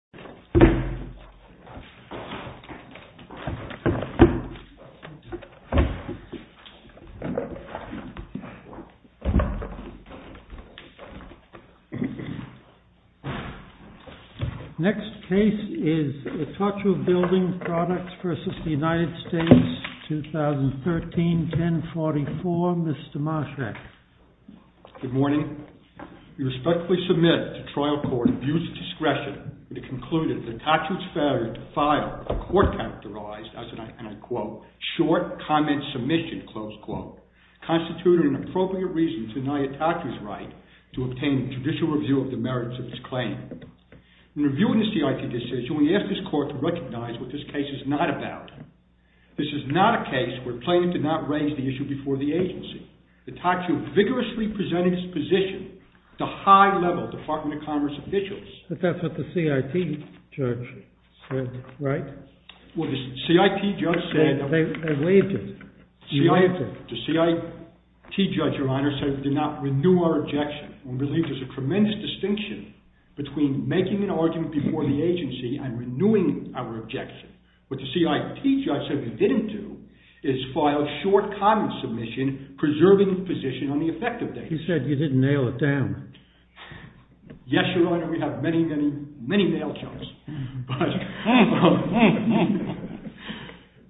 2013-1044 MR. MARSCHRAK Good morning. We respectfully submit to trial court, at your discretion, the conclusion that ITOCHU's failure to file a court-characterized, and I quote, short comment submission, close quote, constituted an appropriate reason to deny ITOCHU's right to obtain judicial review of the merits of its claim. In reviewing the CIT decision, we ask this court to recognize what this case is not about. This is not a case where plaintiff did not raise the issue before the agency. ITOCHU vigorously presented its position to the high-level Department of Commerce officials. MR. MARSCHRAK But that's what the CIT judge said, right? MR. MARSCHRAK Well, the CIT judge said that— MR. MARSCHRAK They waived it. You waived it. MR. MARSCHRAK The CIT judge, Your Honor, said we did not renew our objection. We believe there's a tremendous distinction between making an argument before the agency and renewing our objection. What the CIT judge said we didn't do is file short comment submission preserving the position on the effective date. MR. MARSCHRAK He said you didn't nail it down. MR. MARSCHRAK Yes, Your Honor. We have many, many, many nail jokes.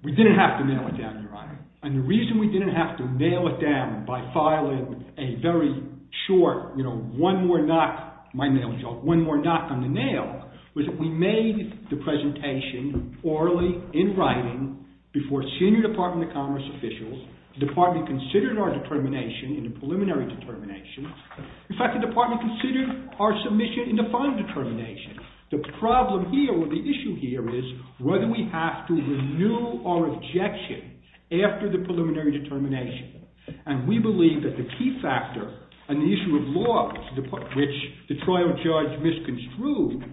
We didn't have to nail it down, Your Honor. And the reason we didn't have to nail it down by filing a very short, you know, one more knock—my nail joke—one more knock on the nail was that we made the presentation orally in writing before senior Department of Commerce officials. The Department considered our determination in the preliminary determination. In fact, the Department considered our submission in the final determination. The problem here or the issue here is whether we have to renew our objection after the preliminary determination. And we believe that the key factor on the issue of law, which the trial judge misconstrued,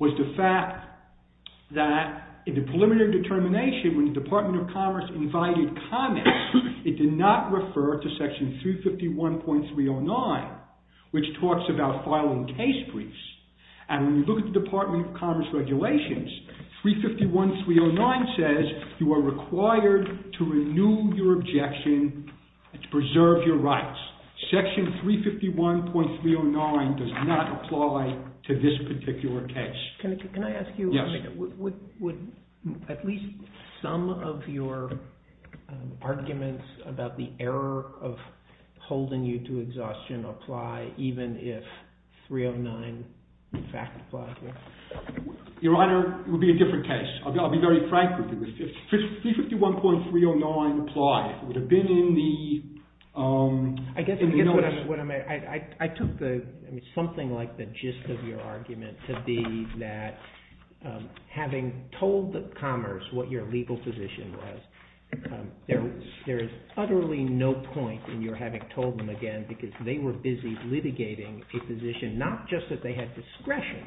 was the fact that in the preliminary determination when the Department of Commerce invited comments it did not refer to Section 351.309, which talks about filing case briefs. And when you look at the Department of Commerce regulations, 351.309 says you are required to renew your objection to preserve your rights. Section 351.309 does not apply to this particular case. Can I ask you, would at least some of your arguments about the error of holding you to exhaustion apply even if 309 in fact applies? Your Honor, it would be a different case. I'll be very frank with you. If 351.309 applied, it would have been in the notice. I took something like the gist of your argument to be that having told Commerce what your legal position was, there is utterly no point in your having told them again because they were busy litigating a position, not just that they had discretion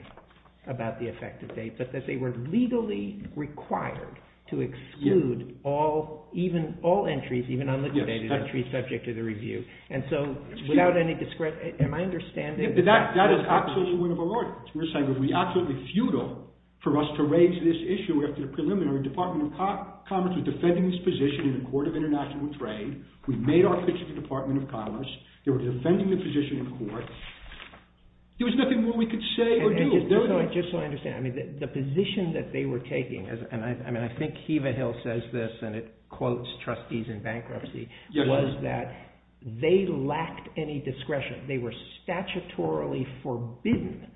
about the effective date, but that they were legally required to exclude all entries, even unlitigated entries subject to the review. And so, without any discretion, am I understanding? That is absolutely one of our arguments. We are saying it would be absolutely futile for us to raise this issue after the preliminary Department of Commerce was defending this position in the Court of International Trade. We made our pitch to the Department of Commerce. They were defending the position in court. There was nothing more we could say or do. Just so I understand, the position that they were taking, and I think Heva Hill says this and it quotes trustees in bankruptcy, was that they lacked any discretion. They were statutorily forbidden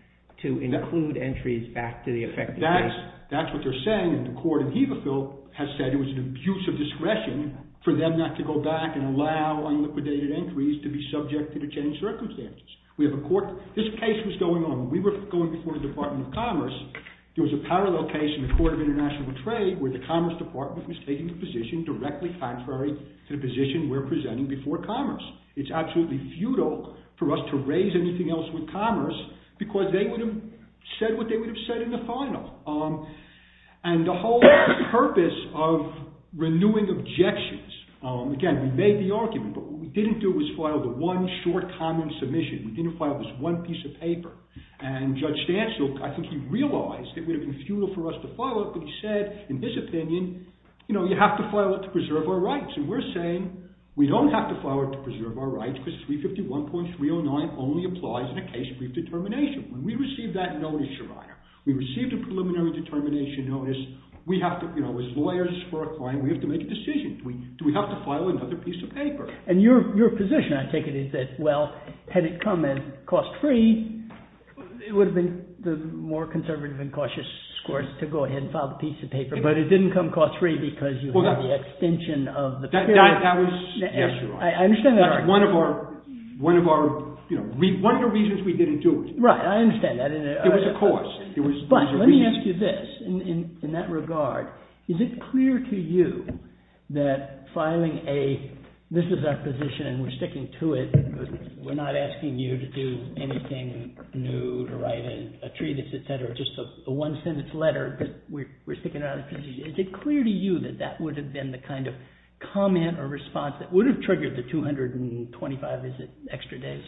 to include entries back to the effective date. That's what they're saying, and the court in Heva Hill has said it was an abuse of discretion for them not to go back and allow unlitigated entries to be subjected to change circumstances. This case was going on. We were going before the Department of Commerce. There was a parallel case in the Court of International Trade where the Commerce Department was taking the position directly contrary to the position we're presenting before Commerce. It's absolutely futile for us to raise anything else with Commerce because they would have said what they would have said in the final. And the whole purpose of renewing objections, again, we made the argument, but what we didn't do was file the one short common submission. We didn't file this one piece of paper. And Judge Stancil, I think he realized it would have been futile for us to file it, but he said, in his opinion, you know, you have to file it to preserve our rights, and we're saying we don't have to file it to preserve our rights because 351.309 only applies in a case of brief determination. When we received that notice, Your Honor, we received a preliminary determination notice. We have to, you know, as lawyers for a client, we have to make a decision. Do we have to file another piece of paper? And your position, I take it, is that, well, had it come in cost-free, it would have been the more conservative and cautious course to go ahead and file the piece of paper, but it didn't come cost-free because you had the extension of the period. That was, yes, Your Honor. I understand that. That's one of our, you know, one of the reasons we didn't do it. Right, I understand that. It was a cost. But let me ask you this. In that regard, is it clear to you that filing a, this is our position and we're sticking to it, we're not asking you to do anything new, to write in a treatise, et cetera, just a one-sentence letter, but we're sticking to it, is it clear to you that that would have been the kind of comment or response that would have triggered the 225 extra days?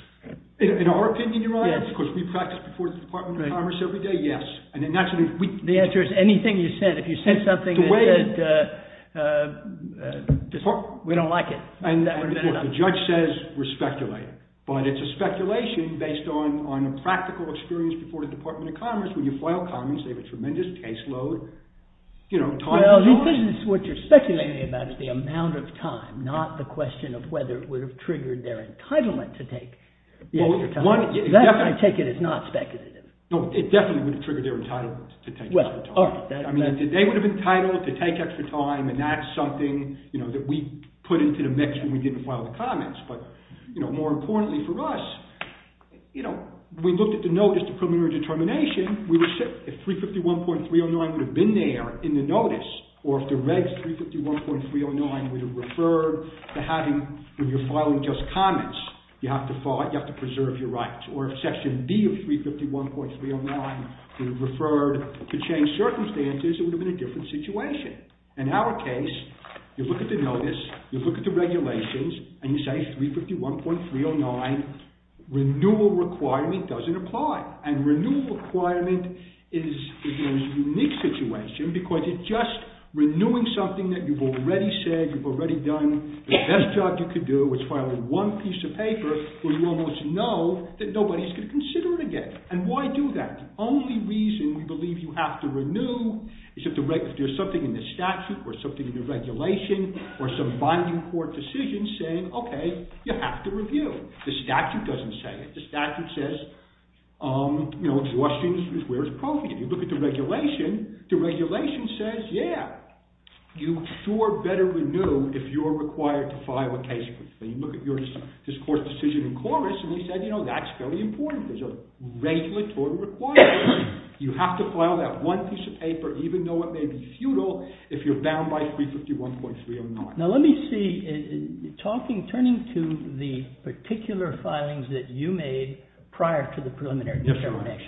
In our opinion, Your Honor, because we practice before the Department of Commerce every day, yes. The answer is anything you said. If you said something that said we don't like it, that would have been enough. And the judge says we're speculating, but it's a speculation based on a practical experience before the Department of Commerce. When you file comments, they have a tremendous caseload, you know, time. Well, this is what you're speculating about is the amount of time, not the question of whether it would have triggered their entitlement to take the extra time. That, I take it, is not speculative. No, it definitely would have triggered their entitlement to take extra time. I mean, they would have been entitled to take extra time and that's something, you know, that we put into the mix when we didn't file the comments. But, you know, more importantly for us, you know, we looked at the notice to preliminary determination. If 351.309 would have been there in the notice or if the regs 351.309 would have referred to having, if you're filing just comments, you have to file, you have to preserve your rights. Or if section B of 351.309 would have referred to change circumstances, it would have been a different situation. In our case, you look at the notice, you look at the regulations, and you say 351.309 renewal requirement doesn't apply. And renewal requirement is, you know, a unique situation because it's just renewing something that you've already said, you've already done. The best job you could do is filing one piece of paper where you almost know that nobody's going to consider it again. And why do that? The only reason we believe you have to renew is if there's something in the statute or something in the regulation or some binding court decision saying, okay, you have to review. The statute doesn't say it. The statute says, you know, exhaustion is where it's appropriate. If you look at the regulation, the regulation says, yeah, you sure better renew if you're required to file a case with me. Look at your discourse decision in chorus, and they said, you know, that's fairly important. There's a regulatory requirement. You have to file that one piece of paper, even though it may be futile, if you're bound by 351.309. Now, let me see, talking, turning to the particular filings that you made prior to the preliminary action,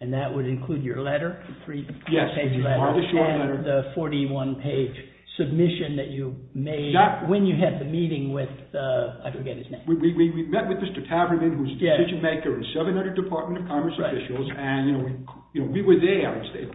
and that would include your letter, the three-page letter, and the 41-page submission that you made when you had the meeting with, I forget his name. We met with Mr. Taverman, who's a decision maker in 700 Department of Commerce officials, and, you know, we were there. I would say,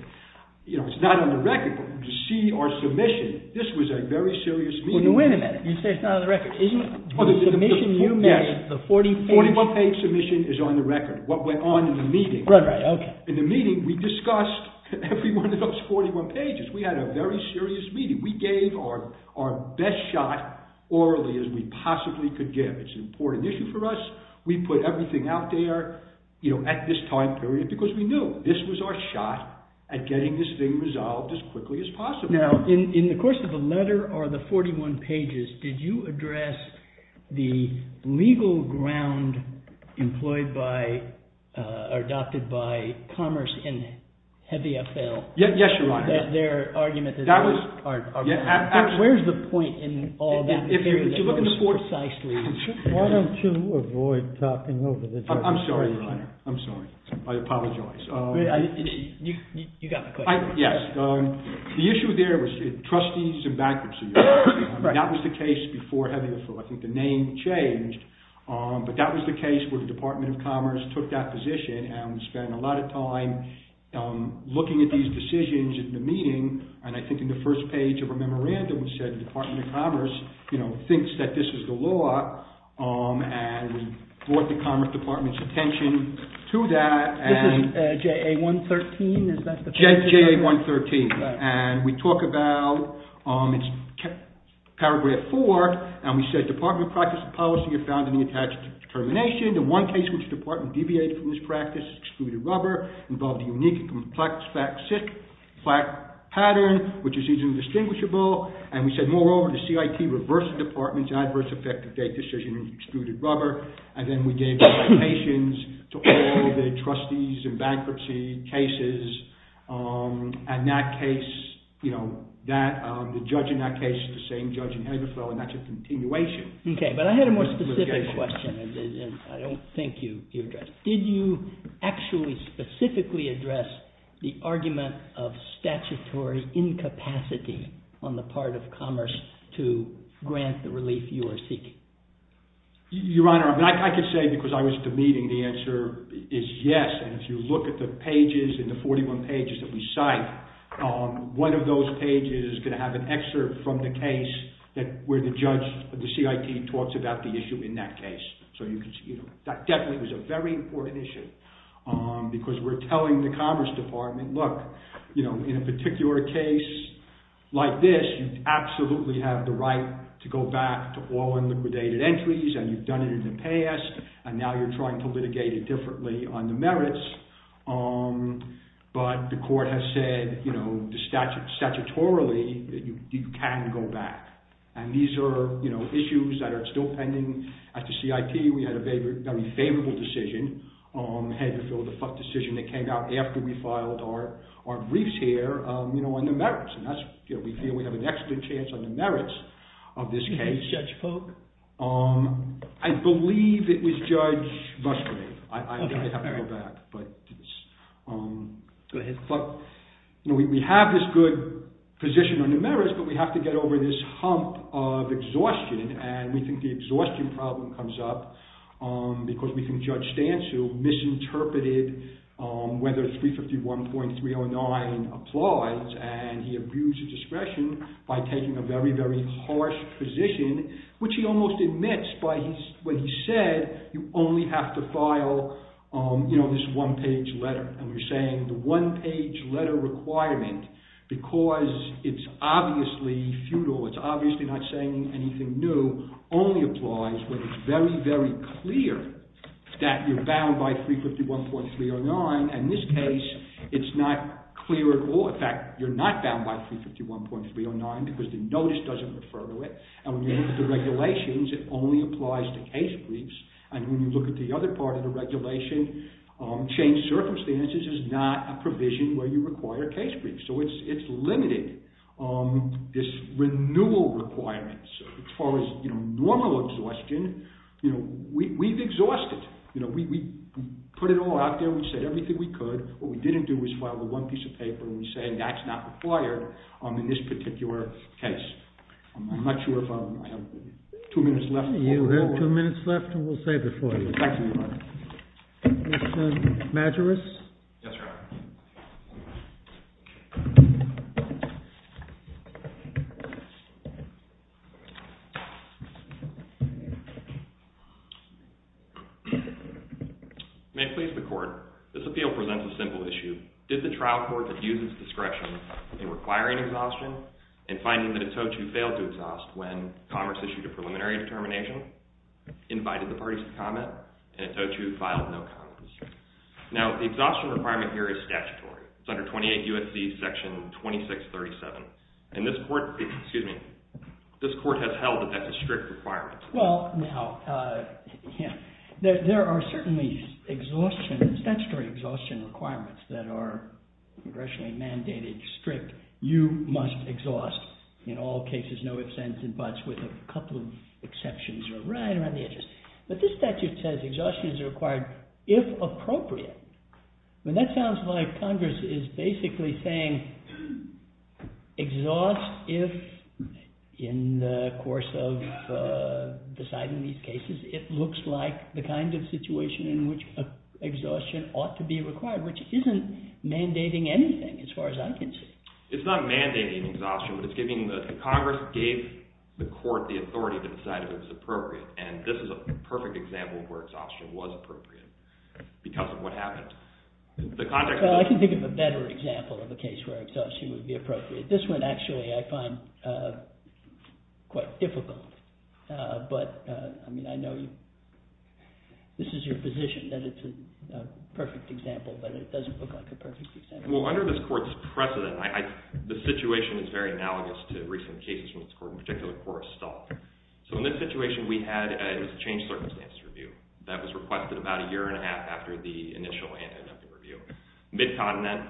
you know, it's not on the record, but to see our submission, this was a very serious meeting. Well, wait a minute. You say it's not on the record. Isn't the submission you made, the 41-page? Yes, 41-page submission is on the record. What went on in the meeting. Right, right, okay. In the meeting, we discussed every one of those 41 pages. We had a very serious meeting. We gave our best shot, orally, as we possibly could give. It's an important issue for us. We put everything out there, you know, at this time period because we knew this was our shot at getting this thing resolved as quickly as possible. Now, in the course of the letter or the 41 pages, did you address the legal ground employed by, or adopted by, Commerce and Heavy FL? Yes, Your Honor. Their argument that... That was... Where's the point in all that? If you look at the... Precisely. Why don't you avoid talking over this? I'm sorry, Your Honor. I'm sorry. I apologize. You got the question. Yes. The issue there was trustees and bankruptcy. That was the case before Heavy FL. I think the name changed, but that was the case where the Department of Commerce took that position, and we spent a lot of time looking at these decisions in the meeting, and I think in the first page of a memorandum, it said the Department of Commerce, you know, thinks that this is the law, and we brought the Commerce Department's attention to that, and... This is JA113? Is that the... JA113. Okay. And we talk about... It's Paragraph 4, and we said, Department of Practice and Policy are found in the attached determination. The one case which the Department deviated from this practice, excluded rubber, involved a unique and complex fact pattern, which is easily distinguishable, and we said, moreover, the CIT reversed the Department's adverse effective date decision and excluded rubber, and then we gave limitations to all the trustees in bankruptcy cases. In that case, you know, the judge in that case is the same judge in Heavy FL, and that's a continuation. Okay, but I had a more specific question, and I don't think you addressed it. Did you actually specifically address the argument of statutory incapacity on the part of Commerce to grant the relief you are seeking? Your Honor, I could say, because I was at the meeting, the answer is yes, and if you look at the pages, in the 41 pages that we cite, one of those pages is going to have an excerpt from the case where the judge, the CIT, talks about the issue in that case. So you can see that definitely was a very important issue, because we're telling the Commerce Department, look, you know, in a particular case like this, you absolutely have the right to go back to all unliquidated entries, and you've done it in the past, and now you're trying to litigate it differently on the merits, but the court has said, you know, statutorily that you can go back, and these are, you know, issues that are still pending at the CIT. We had a very favorable decision, Heavy FL, the decision that came out after we filed our briefs here, you know, on the merits, and that's, you know, we feel we have an excellent chance on the merits of this case. Judge Polk? I believe it was Judge Musgrave. I'd have to go back, but, you know, we have this good position on the merits, but we have to get over this hump of exhaustion, and we think the exhaustion problem comes up, because we think Judge Stantz, who misinterpreted whether 351.309 applies, and he abused discretion by taking a very, very harsh position, which he almost admits, but when he said, you only have to file, you know, this one-page letter, and we're saying the one-page letter requirement, because it's obviously futile, it's obviously not saying anything new, only applies when it's very, very clear that you're bound by 351.309, and in this case, it's not clear at all, in fact, you're not bound by 351.309, because the notice doesn't refer to it, and when you look at the regulations, it only applies to case briefs, and when you look at the other part of the regulation, changed circumstances is not a provision where you require case briefs, so it's limited, this renewal requirements, as far as, you know, normal exhaustion, you know, we've exhausted, you know, we put it all out there, we said everything we could, what we didn't do is file the one piece of paper, and we say that's not required in this particular case. I'm not sure if I have two minutes left. You have two minutes left, and we'll save it for you. Thank you, Your Honor. Mr. Majerus? Yes, Your Honor. May it please the Court, this appeal presents a simple issue. Did the trial court use its discretion in requiring exhaustion and finding that it's owed to fail to exhaust when Congress issued a preliminary determination, invited the parties to comment, and it's owed to file no comments? Now, the exhaustion requirement here is statutory. It's under 28 U.S.C. section 2637, and this court, excuse me, this court has held that that's a strict requirement. Well, now, there are certainly exhaustion, statutory exhaustion requirements that are congressionally mandated, strict, you must exhaust in all cases, no ifs, ands, and buts, with a couple of exceptions right around the edges. But this statute says exhaustion is required if appropriate. I mean, that sounds like Congress is basically saying exhaust if, in the course of deciding these cases, it looks like the kind of situation in which exhaustion ought to be required, which isn't mandating anything, as far as I can see. It's not mandating exhaustion, but it's giving the, Congress gave the court the authority to decide if it was appropriate, and this is a perfect example of where exhaustion was appropriate because of what happened. The context of that... Well, I can think of a better example of a case where exhaustion would be appropriate. This one, actually, I find quite difficult, but, I mean, I know you, this is your position that it's a perfect example, but it doesn't look like a perfect example. Well, under this court's precedent, I, the situation is very analogous to recent cases in this court, in particular, Cora Stahl. So in this situation, we had, it was a changed circumstances review. That was requested about a year and a half after the initial anti-dumping review. Mid-continent,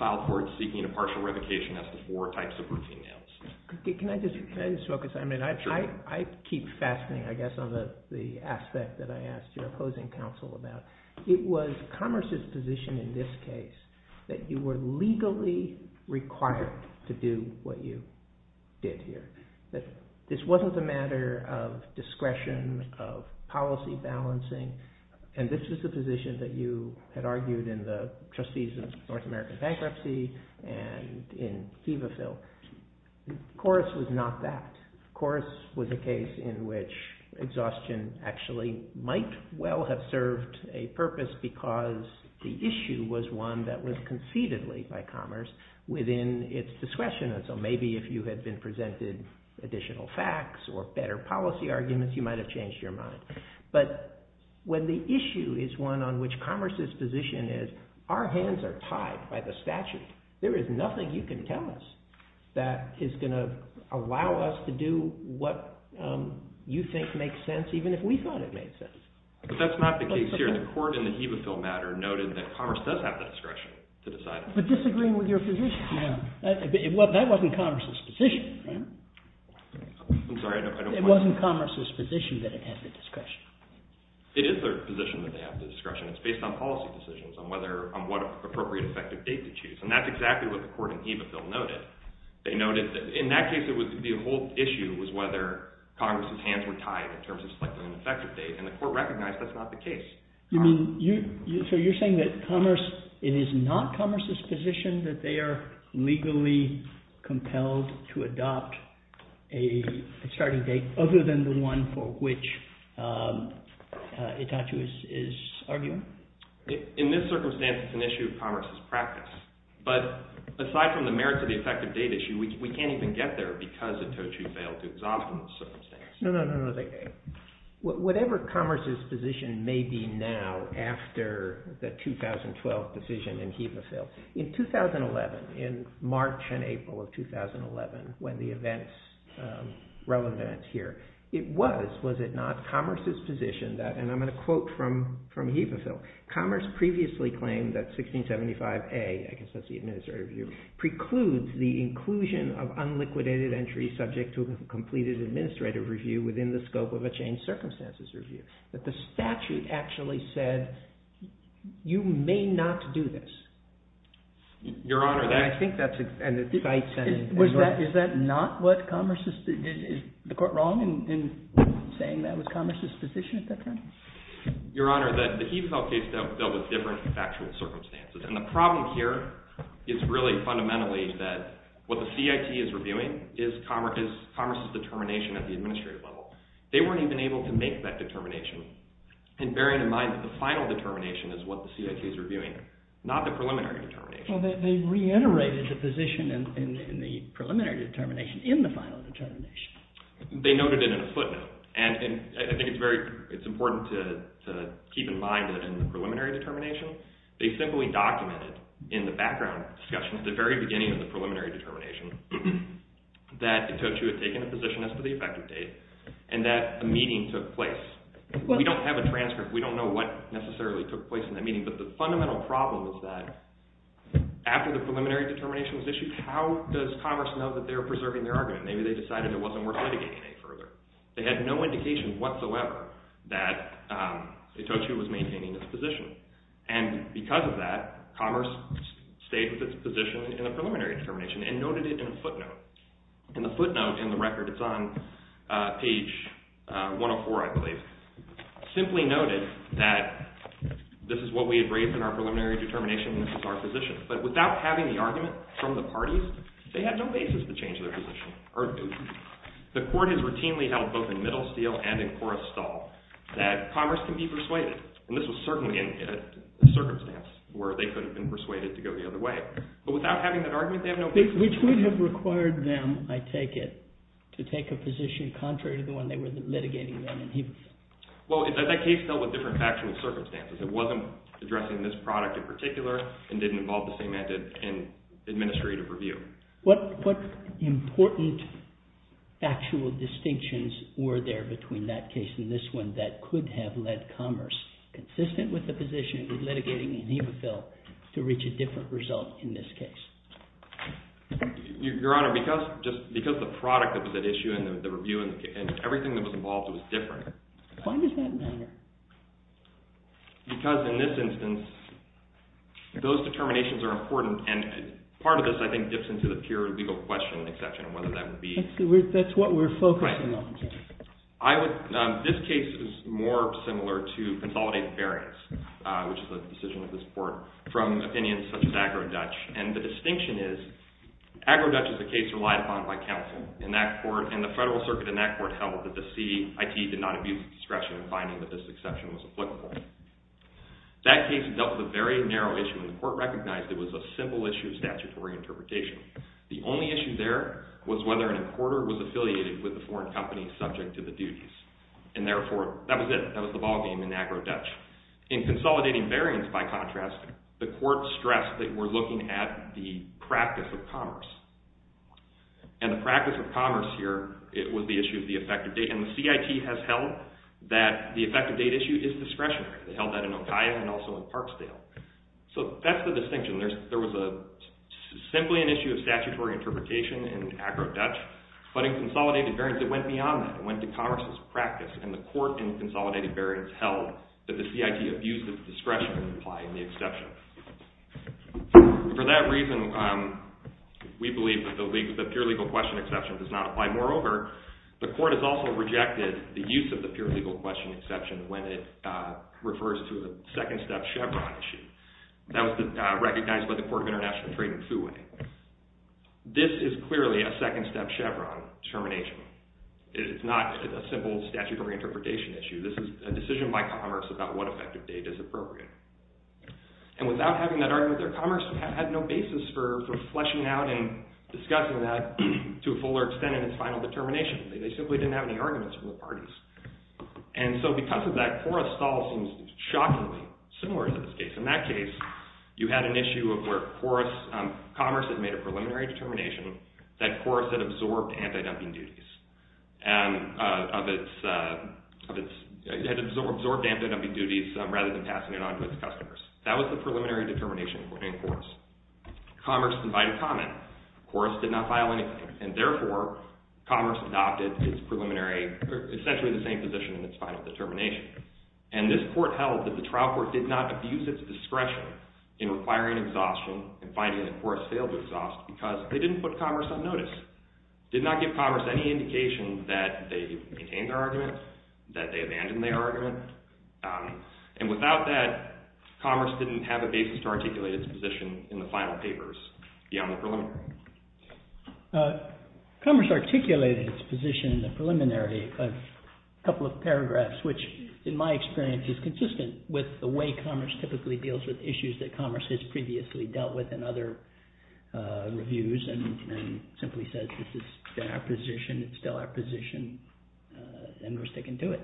filed court seeking a partial revocation as to four types of routine nails. Can I just, can I just focus? Sure. I mean, I keep fastening, I guess, on the aspect that I asked your opposing counsel about. It was commerce's position in this case that you were legally required to do what you did here. That this wasn't the matter of discretion, of policy balancing, and this was the position that you had argued in the trustees of North American Bankruptcy and in Heva Phil. Cora's was not that. Cora's was a case in which exhaustion actually might well have served a purpose because the issue was one that was concededly by commerce within its discretion. And so maybe if you had been presented additional facts or better policy arguments, you might have changed your mind. But when the issue is one on which commerce's position is, our hands are tied by the statute. There is nothing you can tell us that is going to allow us to do what you think makes sense, even if we thought it made sense. But that's not the case here. The court in the Heva Phil matter noted that commerce does have the discretion to decide. But disagreeing with your position. Well, that wasn't commerce's position. I'm sorry. It wasn't commerce's position that it had the discretion. It is their position that they have the discretion. It's based on policy decisions on what appropriate effective date to choose. And that's exactly what the court in Heva Phil noted. In that case, the whole issue was whether Congress's hands were tied in terms of selecting an effective date. And the court recognized that's not the case. So you're saying that it is not commerce's position that they are legally compelled to In this circumstance, it's an issue of commerce's practice. But aside from the merits of the effective date issue, we can't even get there because the Tochu failed to exonerate the circumstance. No, no, no. Whatever commerce's position may be now after the 2012 decision in Heva Phil, in 2011, in March and April of 2011, when the events relevant here, it was, was it not, commerce's position that, and I'm going to quote from, from Heva Phil, commerce previously claimed that 1675A, I guess that's the administrative review, precludes the inclusion of unliquidated entry subject to a completed administrative review within the scope of a changed circumstances review. That the statute actually said, you may not do this. Your Honor, that I think that's, and it cites and Was that, is that not what commerce's, is the court wrong in saying that was commerce's position at that time? Your Honor, that the Heva Phil case dealt with different factual circumstances. And the problem here is really fundamentally that what the CIT is reviewing is commerce's determination at the administrative level. They weren't even able to make that determination. And bearing in mind that the final determination is what the CIT is reviewing, not the preliminary determination. Well, they reiterated the position in the preliminary determination in the final determination. They noted it in a footnote. And I think it's very, it's important to keep in mind that in the preliminary determination, they simply documented in the background discussion at the very beginning of the preliminary determination that Itocho had taken a position as to the effective date and that a meeting took place. We don't have a transcript. We don't know what necessarily took place in that meeting. But the fundamental problem is that after the preliminary determination was issued, how does commerce know that they're preserving their argument? Maybe they decided it wasn't worth litigating any further. They had no indication whatsoever that Itocho was maintaining this position. And because of that, commerce stayed with its position in the preliminary determination and noted it in a footnote. And the footnote in the record, it's on page 104, I believe, simply noted that this is what we had raised in our preliminary determination and this is our position. But without having the argument from the parties, they had no basis to change their position. The court has routinely held both in Middlesteel and in Coruscant that commerce can be persuaded. And this was certainly a circumstance where they could have been persuaded to go the other way. But without having that argument, they have no basis. Which would have required them, I take it, to take a position contrary to the one they were litigating then. Well, that case dealt with different factual circumstances. It wasn't addressing this product in particular and didn't involve the same administrative review. What important factual distinctions were there between that case and this one that could have led commerce, consistent with the position of litigating an EBA bill, to reach a different result in this case? Your Honor, because the product of that issue and the review and everything that was involved was different. Why does that matter? Because in this instance, those determinations are important. And part of this, I think, dips into the pure legal question and exception of whether that would be- That's what we're focusing on. Right. This case is more similar to consolidated variance, which is the decision of this court, from opinions such as Agro-Dutch. And the distinction is, Agro-Dutch is a case relied upon by counsel. And the federal circuit in that court held that the CIT did not abuse discretion in finding that this exception was applicable. That case dealt with a very narrow issue. And the court recognized it was a simple issue of statutory interpretation. The only issue there was whether an importer was affiliated with a foreign company subject to the duties. And therefore, that was it. That was the ballgame in Agro-Dutch. In consolidating variance, by contrast, the court stressed that we're looking at the practice of commerce. And the practice of commerce here was the issue of the effective date. And the CIT has held that the effective date issue is discretionary. They held that in Okia and also in Parksdale. So that's the distinction. There was simply an issue of statutory interpretation in Agro-Dutch. But in consolidated variance, it went beyond that. It went to commerce's practice. And the court in consolidated variance held that the CIT abused its discretion in applying the exception. For that reason, we believe that the pure legal question exception does not apply. Moreover, the court has also rejected the use of the pure legal question exception when it refers to a second-step Chevron issue. That was recognized by the Court of International Trade in Fouay. This is clearly a second-step Chevron determination. It is not a simple statutory interpretation issue. This is a decision by commerce about what effective date is appropriate. And without having that argument, their commerce had no basis for fleshing out and discussing that to a fuller extent. It was not even in its final determination. They simply didn't have any arguments from the parties. And so because of that, Forrestall seems shockingly similar to this case. In that case, you had an issue of where commerce had made a preliminary determination that commerce had absorbed anti-dumping duties rather than passing it on to its customers. That was the preliminary determination in Forrest. Commerce provided comment. Forrest did not file anything. And therefore, commerce adopted its preliminary, essentially the same position in its final determination. And this court held that the trial court did not abuse its discretion in requiring exhaustion and finding that Forrest failed to exhaust because they didn't put commerce on notice, did not give commerce any indication that they maintained their argument, that they abandoned their argument. And without that, commerce didn't have a basis to articulate its position in the final papers beyond the preliminary. Commerce articulated its position in the preliminary of a couple of paragraphs, which in my experience is consistent with the way commerce typically deals with issues that commerce has previously dealt with in other reviews and simply says, this is our position. It's still our position. And we're sticking to it.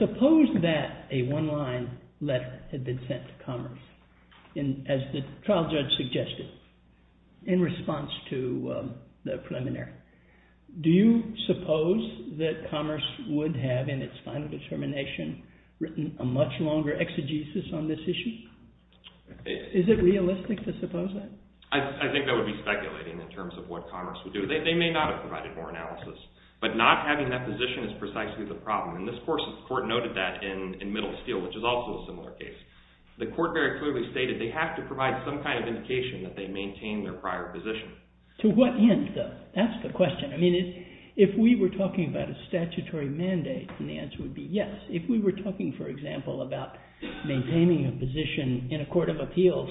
Suppose that a one-line letter had been sent to commerce, as the trial judge suggested, in response to the preliminary. Do you suppose that commerce would have, in its final determination, written a much longer exegesis on this issue? Is it realistic to suppose that? I think that would be speculating in terms of what commerce would do. They may not have provided more analysis. But not having that position is precisely the problem. And this court noted that in Middle Steel, which is also a similar case. The court very clearly stated they have to provide some kind of indication that they maintain their prior position. To what end, though? That's the question. I mean, if we were talking about a statutory mandate, then the answer would be yes. If we were talking, for example, about maintaining a position in a court of appeals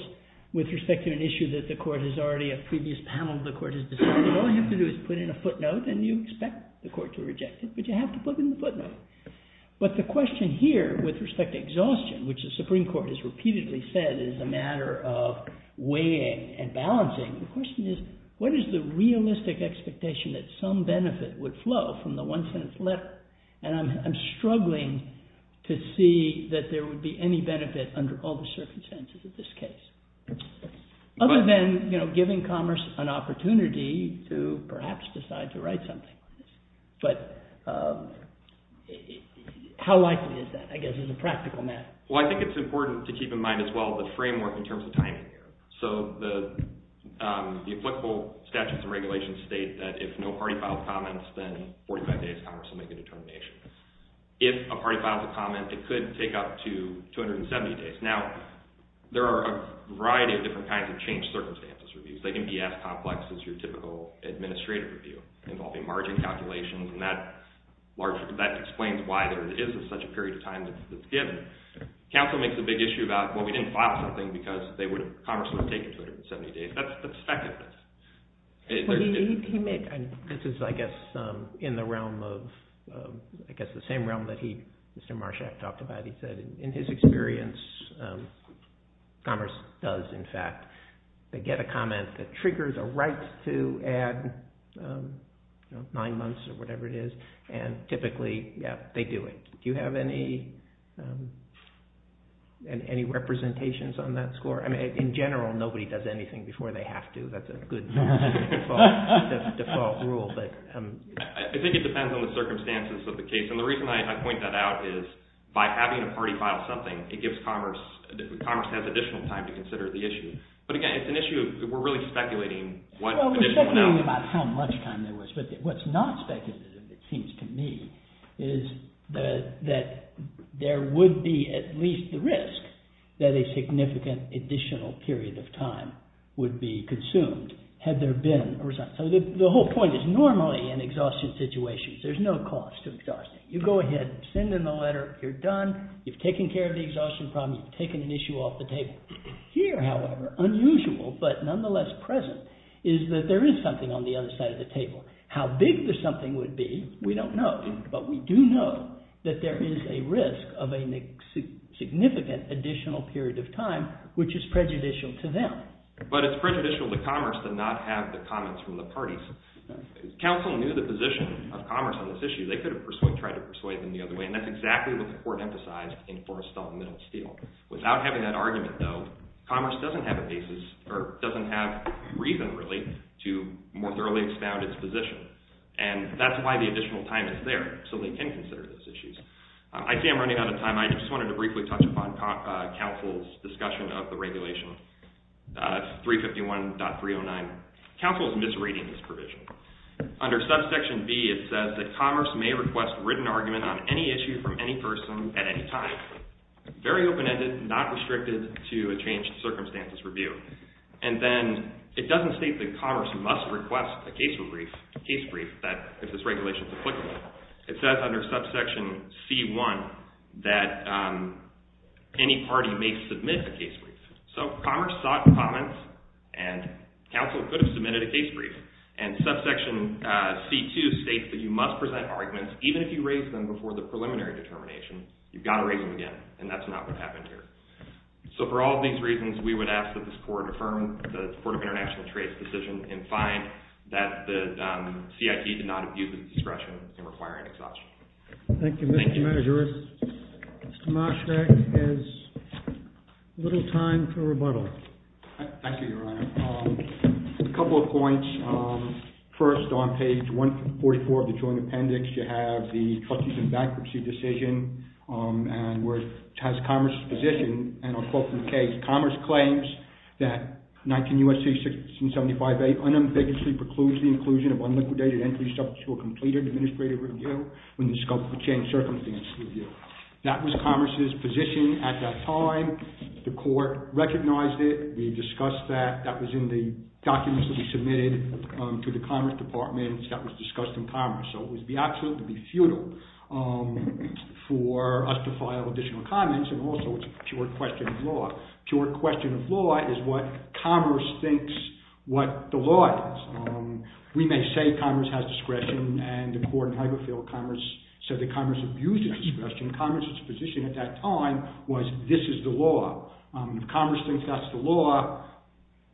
with respect to an issue that the court has already, a previous panel of the court has decided, all you have to do is put in a footnote and you expect the court to reject it. But you have to put in the footnote. But the question here, with respect to exhaustion, which the Supreme Court has repeatedly said is a matter of weighing and balancing, the question is, what is the realistic expectation that some benefit would flow from the one-sentence letter? And I'm struggling to see that there would be any benefit under all the circumstances of this case. Other than, you know, giving commerce an opportunity to perhaps decide to write something. But how likely is that, I guess, as a practical matter? Well, I think it's important to keep in mind as well the framework in terms of timing here. So the applicable statutes and regulations state that if no party files comments, then 45 days, commerce will make a determination. If a party files a comment, it could take up to 270 days. Now, there are a variety of different kinds of changed circumstances reviews. They can be as complex as your typical administrative review involving margin calculations, and that explains why there is such a period of time that's given. Council makes a big issue about, well, we didn't file something because commerce would have taken 270 days. That's the second. This is, I guess, in the realm of, I guess, the same realm that Mr. Marshak talked about. He said in his experience, commerce does, in fact, get a comment that triggers a right to add nine months or whatever it is, and typically, yeah, they do it. Do you have any representations on that score? I mean, in general, nobody does anything before they have to. That's a good default rule. I think it depends on the circumstances of the case, and the reason I point that out is by having a party file something, it gives commerce—commerce has additional time to consider the issue. But again, it's an issue of we're really speculating what— Well, we're speculating about how much time there was. But what's not speculative, it seems to me, is that there would be at least the risk that a significant additional period of time would be consumed had there been a result. So the whole point is normally in exhaustion situations, there's no cost to exhaustion. You go ahead, send in the letter, you're done, you've taken care of the exhaustion problem, you've taken an issue off the table. Here, however, unusual but nonetheless present is that there is something on the other side of the table. How big the something would be, we don't know. But we do know that there is a risk of a significant additional period of time, which is prejudicial to them. But it's prejudicial to commerce to not have the comments from the parties. Counsel knew the position of commerce on this issue. They could have tried to persuade them the other way, and that's exactly what the court emphasized in Forrestall Middle Steel. Without having that argument, though, commerce doesn't have a basis or doesn't have reason, really, to more thoroughly expound its position. And that's why the additional time is there, so they can consider those issues. I see I'm running out of time. I just wanted to briefly touch upon counsel's discussion of the regulation 351.309. Counsel is misreading this provision. Under subsection B, it says that commerce may request written argument on any issue from any person at any time. Very open-ended, not restricted to a changed circumstances review. And then it doesn't state that commerce must request a case brief if this regulation is applicable. It says under subsection C.1 that any party may submit a case brief. So commerce sought comments, and counsel could have submitted a case brief. And subsection C.2 states that you must present arguments even if you raise them before the preliminary determination. You've got to raise them again, and that's not what happened here. So for all of these reasons, we would ask that this court affirm the Court of International Trade's decision and find that the CIT did not abuse its discretion in requiring this option. Thank you, Mr. Manager. Mr. Mosvick has little time for rebuttal. Thank you, Your Honor. A couple of points. First, on page 144 of the joint appendix, you have the trustees and bankruptcy decision, and where it has commerce's position, and I'll quote from the case. Commerce claims that 19 U.S.C. 675A unambiguously precludes the inclusion of unliquidated entries subject to a completed administrative review when the scope for changed circumstances review. That was commerce's position at that time. The court recognized it. We discussed that. That was in the documents that we submitted to the commerce department. That was discussed in commerce, so it would be absolutely futile for us to file additional comments, and also it's a pure question of law. Pure question of law is what commerce thinks what the law is. We may say commerce has discretion, and the court in Hagerfield said that commerce abused its discretion. Commerce's position at that time was this is the law. Commerce thinks that's the law.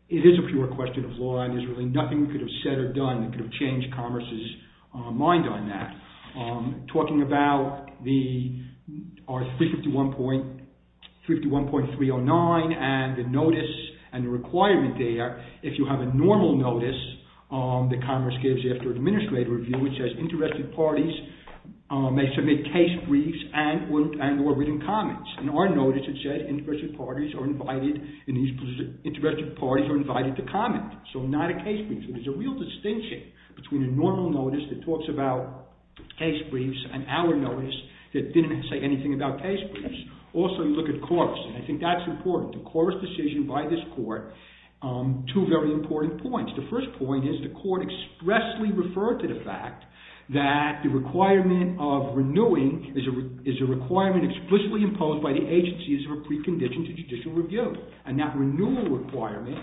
It is a pure question of law, and there's really nothing we could have said or done that could have changed commerce's mind on that. Talking about our 351.309 and the notice and the requirement there, if you have a normal notice that commerce gives after administrative review, it says interested parties may submit case briefs and or written comments. In our notice it says interested parties are invited to comment, so not a case brief. There's a real distinction between a normal notice that talks about case briefs and our notice that didn't say anything about case briefs. Also, you look at chorus, and I think that's important. The chorus decision by this court, two very important points. The first point is the court expressly referred to the fact that the requirement of renewing is a requirement explicitly imposed by the agency as a precondition to judicial review, and that renewal requirement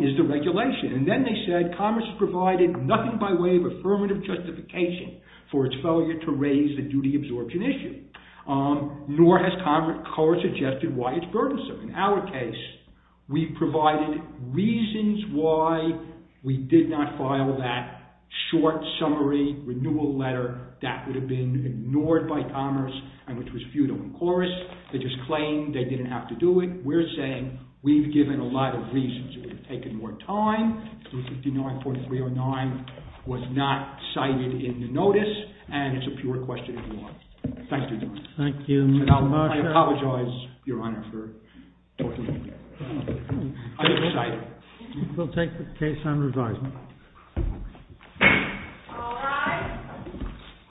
is the regulation. And then they said commerce provided nothing by way of affirmative justification for its failure to raise the duty absorption issue, nor has commerce suggested why it's burdensome. In our case, we provided reasons why we did not file that short summary renewal letter. That would have been ignored by commerce, and which was futile in chorus. They just claimed they didn't have to do it. We're saying we've given a lot of reasons. It would have taken more time. 359.309 was not cited in the notice, and it's a pure question of law. Thank you, Your Honor. Thank you very much. I apologize, Your Honor, for talking to you. I didn't cite it. We'll take the case on revisal. All rise.